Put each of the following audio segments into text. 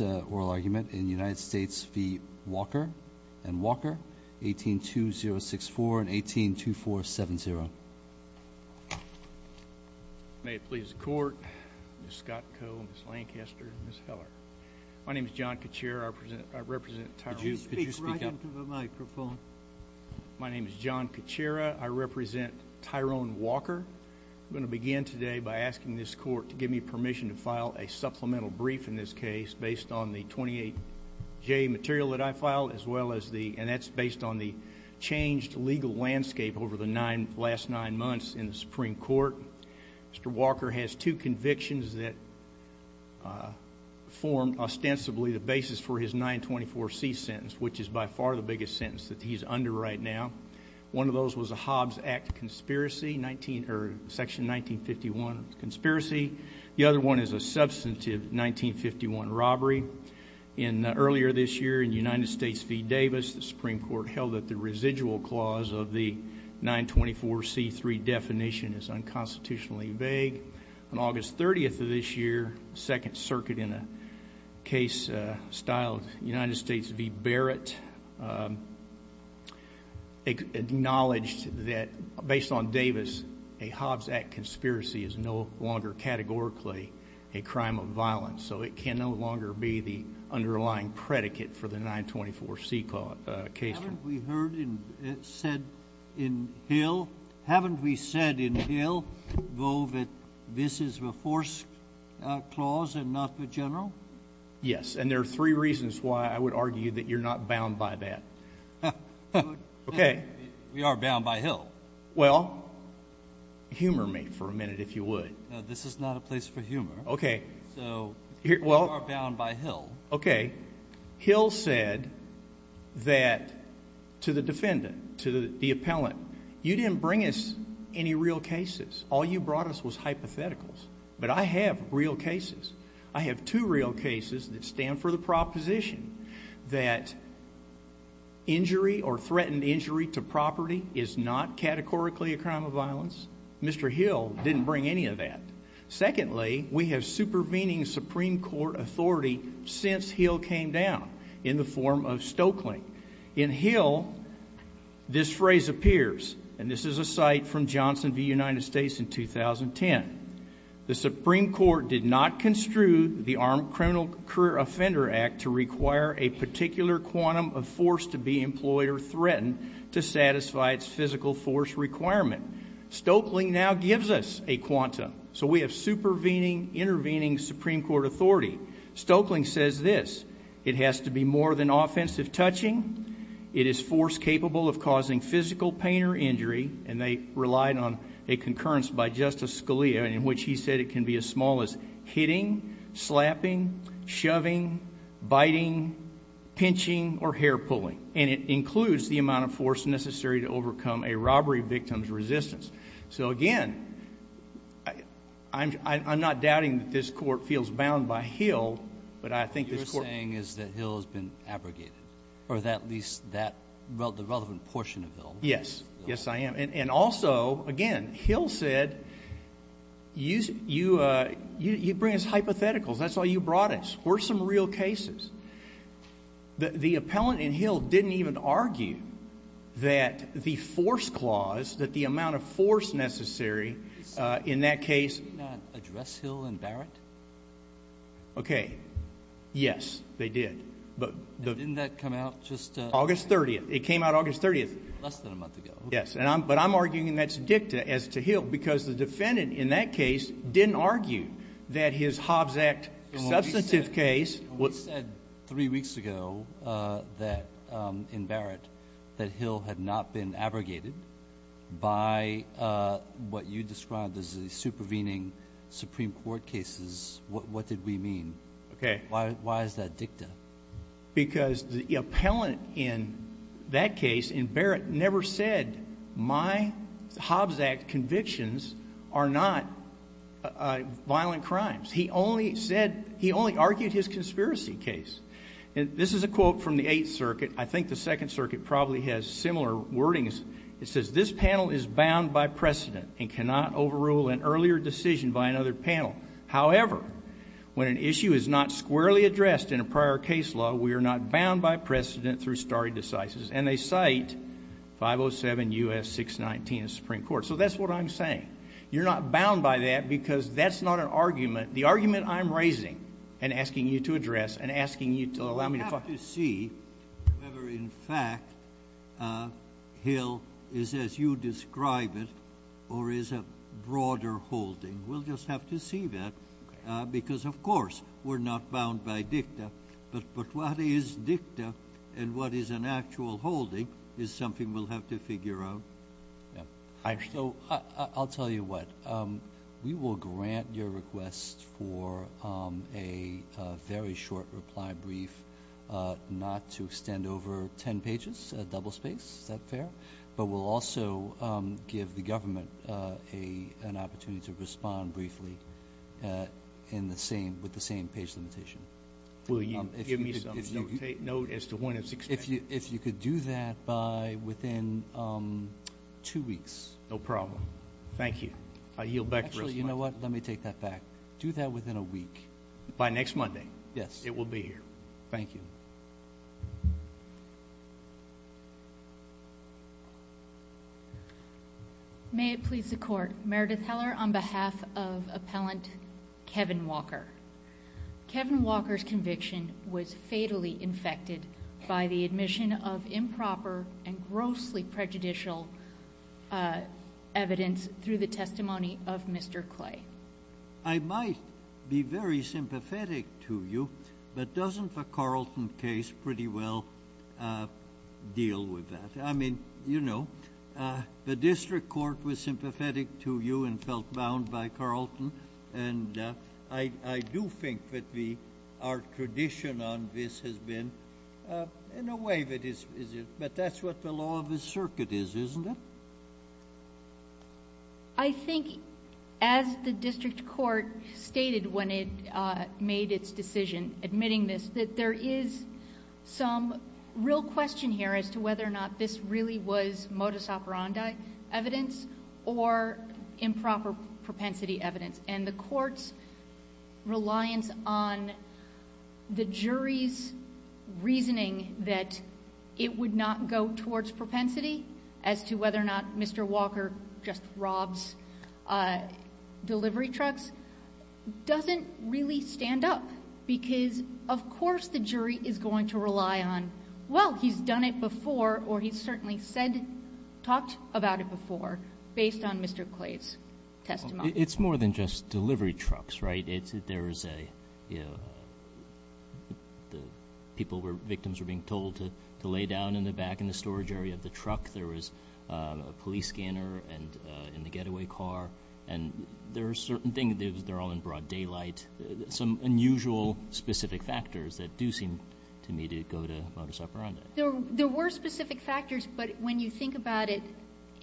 and Walker, 18-2064 and 18-2470. May it please the Court, Ms. Scott Coe, Ms. Lancaster, and Ms. Heller. My name is John Caccera. I represent Tyrone Walker. Could you speak right into the microphone? My name is John Caccera. I represent Tyrone Walker. I'm going to begin today by asking this Court to give me permission to file a supplemental brief in this case based on the 28J material that I filed, and that's based on the changed legal landscape over the last nine months in the Supreme Court. Mr. Walker has two convictions that form ostensibly the basis for his 924C sentence, which is by far the biggest sentence that he's under right now. One of those was a Hobbs Act conspiracy, Section 1951 conspiracy. The other one is a substantive 1951 robbery. Earlier this year, in United States v. Davis, the Supreme Court held that the residual clause of the 924C3 definition is unconstitutionally vague. On August 30th of this year, the Second Circuit in a case styled United States v. Barrett acknowledged that, based on Davis, a Hobbs Act conspiracy is no longer categorically a crime of violence, so it can no longer be the underlying predicate for the 924C case. Haven't we said in Hill, though, that this is the force clause and not the general? Yes, and there are three reasons why I would argue that you're not bound by that. Okay. We are bound by Hill. Well, humor me for a minute, if you would. No, this is not a place for humor. Okay. So we are bound by Hill. Okay. Hill said that to the defendant, to the appellant, you didn't bring us any real cases. All you brought us was hypotheticals. But I have real cases. I have two real cases that stand for the proposition that injury or threatened injury to property is not categorically a crime of violence. Mr. Hill didn't bring any of that. Secondly, we have supervening Supreme Court authority since Hill came down in the form of Stoeckling. In Hill, this phrase appears, and this is a cite from Johnson v. United States in 2010. The Supreme Court did not construe the Armed Criminal Career Offender Act to require a particular quantum of force to be employed or threatened to satisfy its physical force requirement. Stoeckling now gives us a quantum. So we have supervening, intervening Supreme Court authority. Stoeckling says this. It has to be more than offensive touching. It is force capable of causing physical pain or injury, and they relied on a concurrence by Justice Scalia in which he said it can be as small as hitting, slapping, shoving, biting, pinching, or hair pulling. And it includes the amount of force necessary to overcome a robbery victim's resistance. So, again, I'm not doubting that this Court feels bound by Hill, but I think this Court What you're saying is that Hill has been abrogated, or at least the relevant portion of Hill. Yes. Yes, I am. And also, again, Hill said you bring us hypotheticals. That's why you brought us. We're some real cases. The appellant in Hill didn't even argue that the force clause, that the amount of force necessary in that case Did he not address Hill and Barrett? Okay. Yes, they did. Didn't that come out just August 30th. It came out August 30th. Less than a month ago. Yes, but I'm arguing that's dicta as to Hill because the defendant in that case didn't argue that his Hobbs Act substantive case We said three weeks ago in Barrett that Hill had not been abrogated by what you described as the supervening Supreme Court cases. What did we mean? Okay. Why is that dicta? Because the appellant in that case, in Barrett, never said my Hobbs Act convictions are not violent crimes. He only said, he only argued his conspiracy case. This is a quote from the Eighth Circuit. I think the Second Circuit probably has similar wordings. It says, this panel is bound by precedent and cannot overrule an earlier decision by another panel. However, when an issue is not squarely addressed in a prior case law, we are not bound by precedent through stare decisis. And they cite 507 U.S. 619 of the Supreme Court. So that's what I'm saying. You're not bound by that because that's not an argument. The argument I'm raising and asking you to address and asking you to allow me to follow. We'll just have to see whether, in fact, Hill is as you describe it or is a broader holding. We'll just have to see that because, of course, we're not bound by dicta. But what is dicta and what is an actual holding is something we'll have to figure out. So I'll tell you what. We will grant your request for a very short reply brief not to extend over ten pages, a double space. Is that fair? But we'll also give the government an opportunity to respond briefly with the same page limitation. Will you give me some note as to when it's extended? If you could do that by within two weeks. No problem. Thank you. I yield back the response. Actually, you know what? Let me take that back. Do that within a week. By next Monday. Yes. It will be here. Thank you. May it please the Court. Meredith Heller on behalf of Appellant Kevin Walker. Kevin Walker's conviction was fatally infected by the admission of improper and grossly prejudicial evidence through the testimony of Mr. Clay. I might be very sympathetic to you, but doesn't the Carlton case pretty well deal with that? I mean, you know, the district court was sympathetic to you and felt bound by Carlton. And I do think that our tradition on this has been in a way that is, but that's what the law of the circuit is, isn't it? I think as the district court stated when it made its decision admitting this, that there is some real question here as to whether or not this really was modus operandi evidence or improper propensity evidence. And the court's reliance on the jury's reasoning that it would not go towards propensity as to whether or not Mr. Walker just robs delivery trucks doesn't really stand up. Because, of course, the jury is going to rely on, well, he's done it before or he's certainly said, talked about it before based on Mr. Clay's testimony. It's more than just delivery trucks, right? There is a, you know, people were, victims were being told to lay down in the back in the storage area of the truck. There was a police scanner in the getaway car. And there are certain things, they're all in broad daylight, some unusual specific factors that do seem to me to go to modus operandi. There were specific factors, but when you think about it,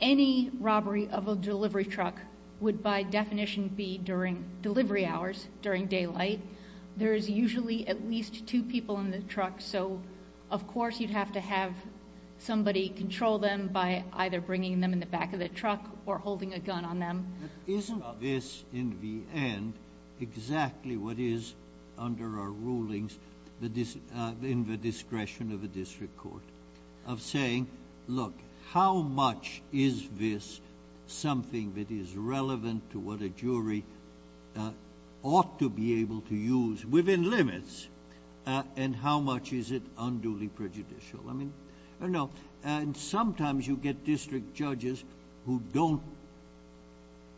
any robbery of a delivery truck would by definition be during delivery hours, during daylight. There is usually at least two people in the truck, so of course you'd have to have somebody control them by either bringing them in the back of the truck or holding a gun on them. Isn't this in the end exactly what is under our rulings in the discretion of a district court? Of saying, look, how much is this something that is relevant to what a jury ought to be able to use within limits? And how much is it unduly prejudicial? And sometimes you get district judges who don't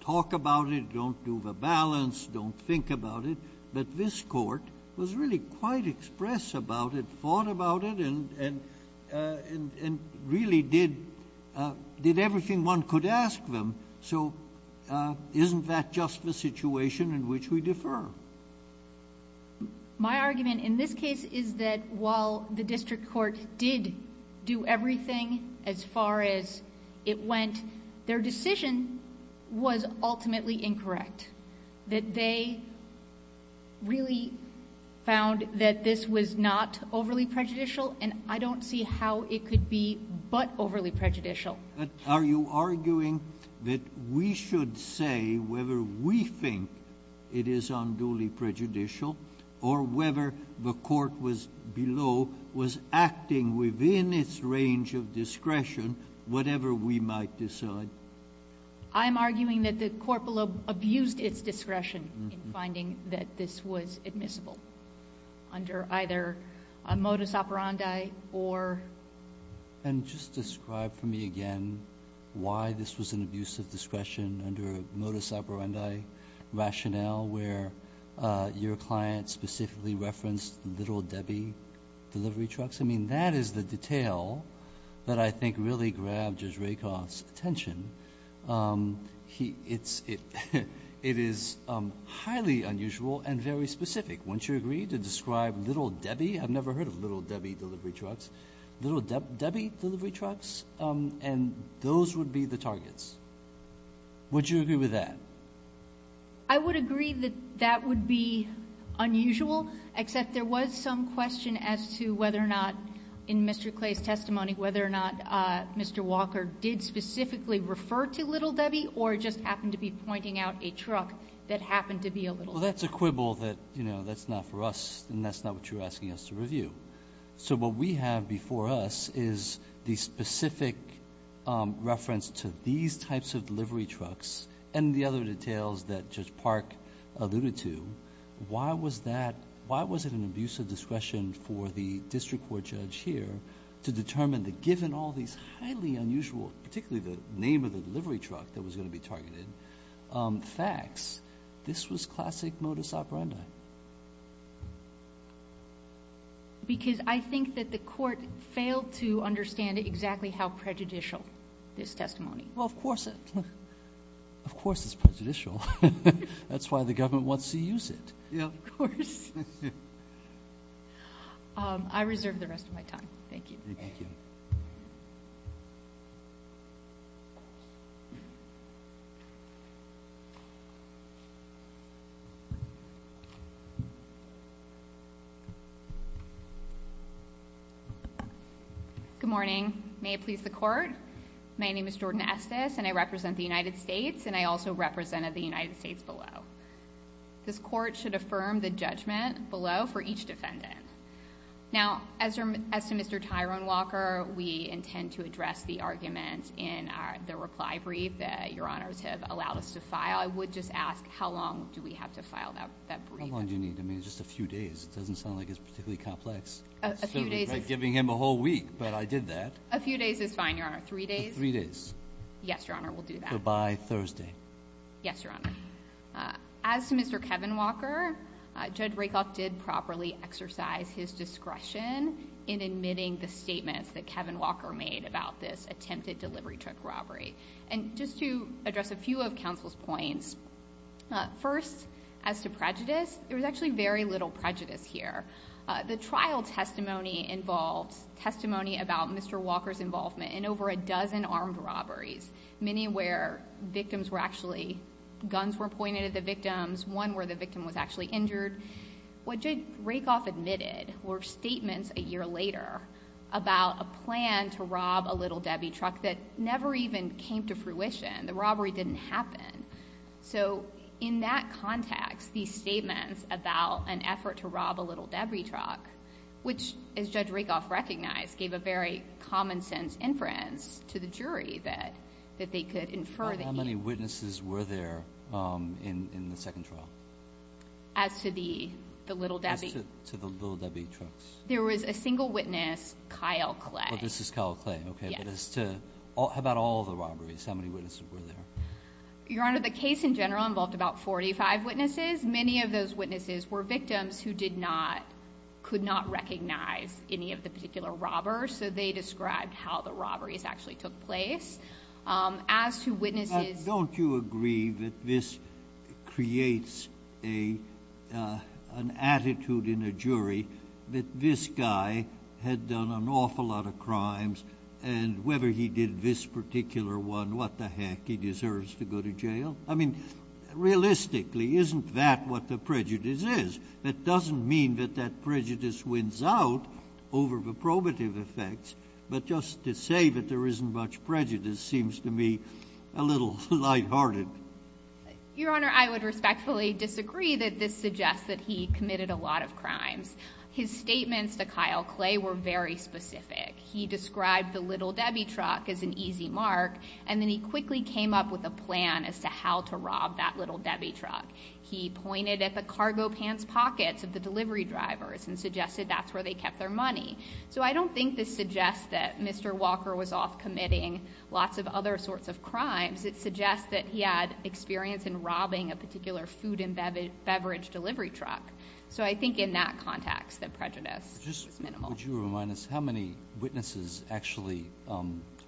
talk about it, don't do the balance, don't think about it, but this court was really quite express about it, thought about it, and really did everything one could ask them. So isn't that just the situation in which we defer? My argument in this case is that while the district court did do everything as far as it went, their decision was ultimately incorrect. That they really found that this was not overly prejudicial, and I don't see how it could be but overly prejudicial. Are you arguing that we should say whether we think it is unduly prejudicial or whether the court below was acting within its range of discretion, whatever we might decide? I'm arguing that the court below abused its discretion in finding that this was admissible under either a modus operandi or... And just describe for me again why this was an abuse of discretion under a modus operandi rationale where your client specifically referenced Little Debbie delivery trucks. I mean, that is the detail that I think really grabbed Judge Rakoff's attention. It is highly unusual and very specific. Wouldn't you agree to describe Little Debbie? I've never heard of Little Debbie delivery trucks. Little Debbie delivery trucks? And those would be the targets. Would you agree with that? I would agree that that would be unusual, except there was some question as to whether or not in Mr. Clay's testimony, whether or not Mr. Walker did specifically refer to Little Debbie or just happened to be pointing out a truck that happened to be a Little Debbie. Well, that's a quibble that, you know, that's not for us and that's not what you're asking us to review. So what we have before us is the specific reference to these types of delivery trucks and the other details that Judge Park alluded to. Why was that? Why was it an abuse of discretion for the district court judge here to determine that given all these highly unusual, particularly the name of the delivery truck that was going to be targeted, facts, this was classic modus operandi? Why? Because I think that the court failed to understand exactly how prejudicial this testimony. Well, of course it's prejudicial. That's why the government wants to use it. Of course. I reserve the rest of my time. Thank you. Thank you. Good morning. May it please the court, my name is Jordan Estes and I represent the United States and I also represented the United States below. This court should affirm the judgment below for each defendant. Now, as to Mr. Tyrone Walker, we intend to address the argument in the reply brief that your honors have allowed us to file. I would just ask how long do we have to file that brief? How long do you need? I mean, just a few days. It doesn't sound like it's particularly complex. A few days is fine. It's like giving him a whole week, but I did that. A few days is fine, your honor. Three days? Yes, your honor, we'll do that. So by Thursday. Yes, your honor. As to Mr. Kevin Walker, Judge Rakoff did properly exercise his discretion in admitting the statements that Kevin Walker made about this attempted delivery truck robbery. And just to address a few of counsel's points. First, as to prejudice, there was actually very little prejudice here. The trial testimony involved testimony about Mr. Walker's involvement in over a dozen armed robberies, many where guns were pointed at the victims, one where the victim was actually injured. What Judge Rakoff admitted were statements a year later about a plan to rob a Little Debbie truck that never even came to fruition. The robbery didn't happen. So in that context, these statements about an effort to rob a Little Debbie truck, which, as Judge Rakoff recognized, gave a very common sense inference to the jury that they could infer that he... How many witnesses were there in the second trial? As to the Little Debbie? As to the Little Debbie trucks. There was a single witness, Kyle Clay. This is Kyle Clay. Yes. How about all the robberies? How many witnesses were there? Your honor, the case in general involved about 45 witnesses. Many of those witnesses were victims who did not, could not recognize any of the particular robbers, so they described how the robberies actually took place. As to witnesses... Don't you agree that this creates an attitude in a jury that this guy had done an awful lot of crimes and whether he did this particular one, what the heck, he deserves to go to jail? I mean, realistically, isn't that what the prejudice is? That doesn't mean that that prejudice wins out over the probative effects, but just to say that there isn't much prejudice seems to me a little lighthearted. Your honor, I would respectfully disagree that this suggests that he committed a lot of crimes. His statements to Kyle Clay were very specific. He described the Little Debbie truck as an easy mark, and then he quickly came up with a plan as to how to rob that Little Debbie truck. He pointed at the cargo pants pockets of the delivery drivers and suggested that's where they kept their money. So I don't think this suggests that Mr. Walker was off committing lots of other sorts of crimes. It suggests that he had experience in robbing a particular food and beverage delivery truck. So I think in that context, the prejudice is minimal. Would you remind us how many witnesses actually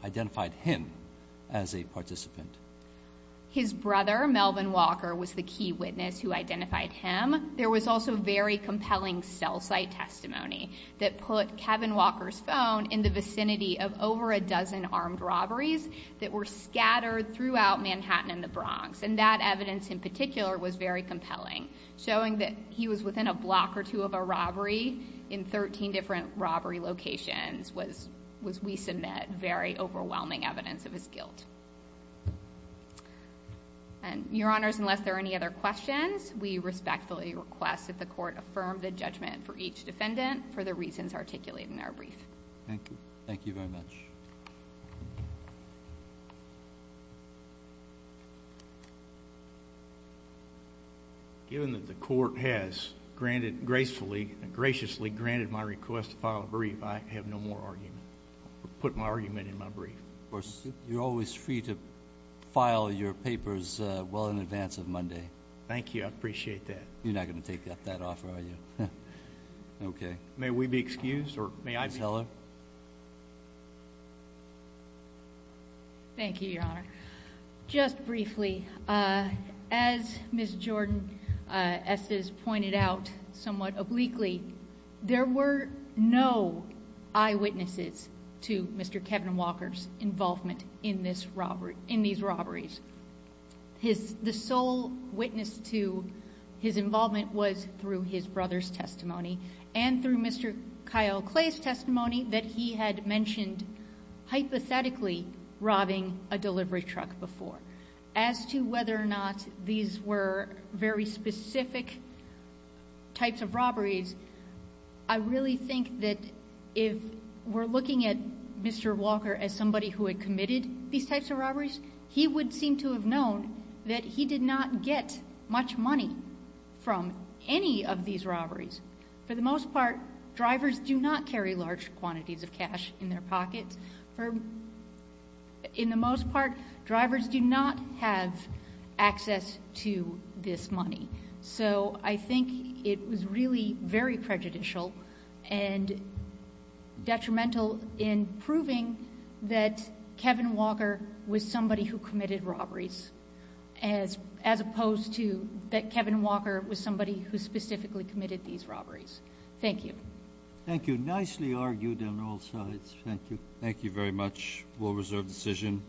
identified him as a participant? His brother, Melvin Walker, was the key witness who identified him. There was also very compelling cell site testimony that put Kevin Walker's phone in the vicinity of over a dozen armed robberies that were scattered throughout Manhattan and the Bronx, and that evidence in particular was very compelling, showing that he was within a block or two of a robbery in 13 different robbery locations was, we submit, very overwhelming evidence of his guilt. Your Honors, unless there are any other questions, we respectfully request that the Court affirm the judgment for each defendant for the reasons articulated in our brief. Thank you. Thank you very much. Given that the Court has graciously granted my request to file a brief, I have no more argument. I'll put my argument in my brief. Of course, you're always free to file your papers well in advance of Monday. Thank you. I appreciate that. You're not going to take that offer, are you? Okay. May we be excused? Ms. Heller? Thank you, Your Honor. Just briefly, as Ms. Jordan-Esses pointed out somewhat obliquely, there were no eyewitnesses to Mr. Kevin Walker's involvement in these robberies. The sole witness to his involvement was through his brother's testimony and through Mr. Kyle Clay's testimony that he had mentioned hypothetically robbing a delivery truck before. As to whether or not these were very specific types of robberies, I really think that if we're looking at Mr. Walker as somebody who had committed these types of robberies, he would seem to have known that he did not get much money from any of these robberies. For the most part, drivers do not carry large quantities of cash in their pockets. In the most part, drivers do not have access to this money. So I think it was really very prejudicial and detrimental in proving that Kevin Walker was somebody who committed robberies as opposed to that Kevin Walker was somebody who specifically committed these robberies. Thank you. Thank you. Nicely argued on all sides. Thank you. Thank you very much. A well-reserved decision.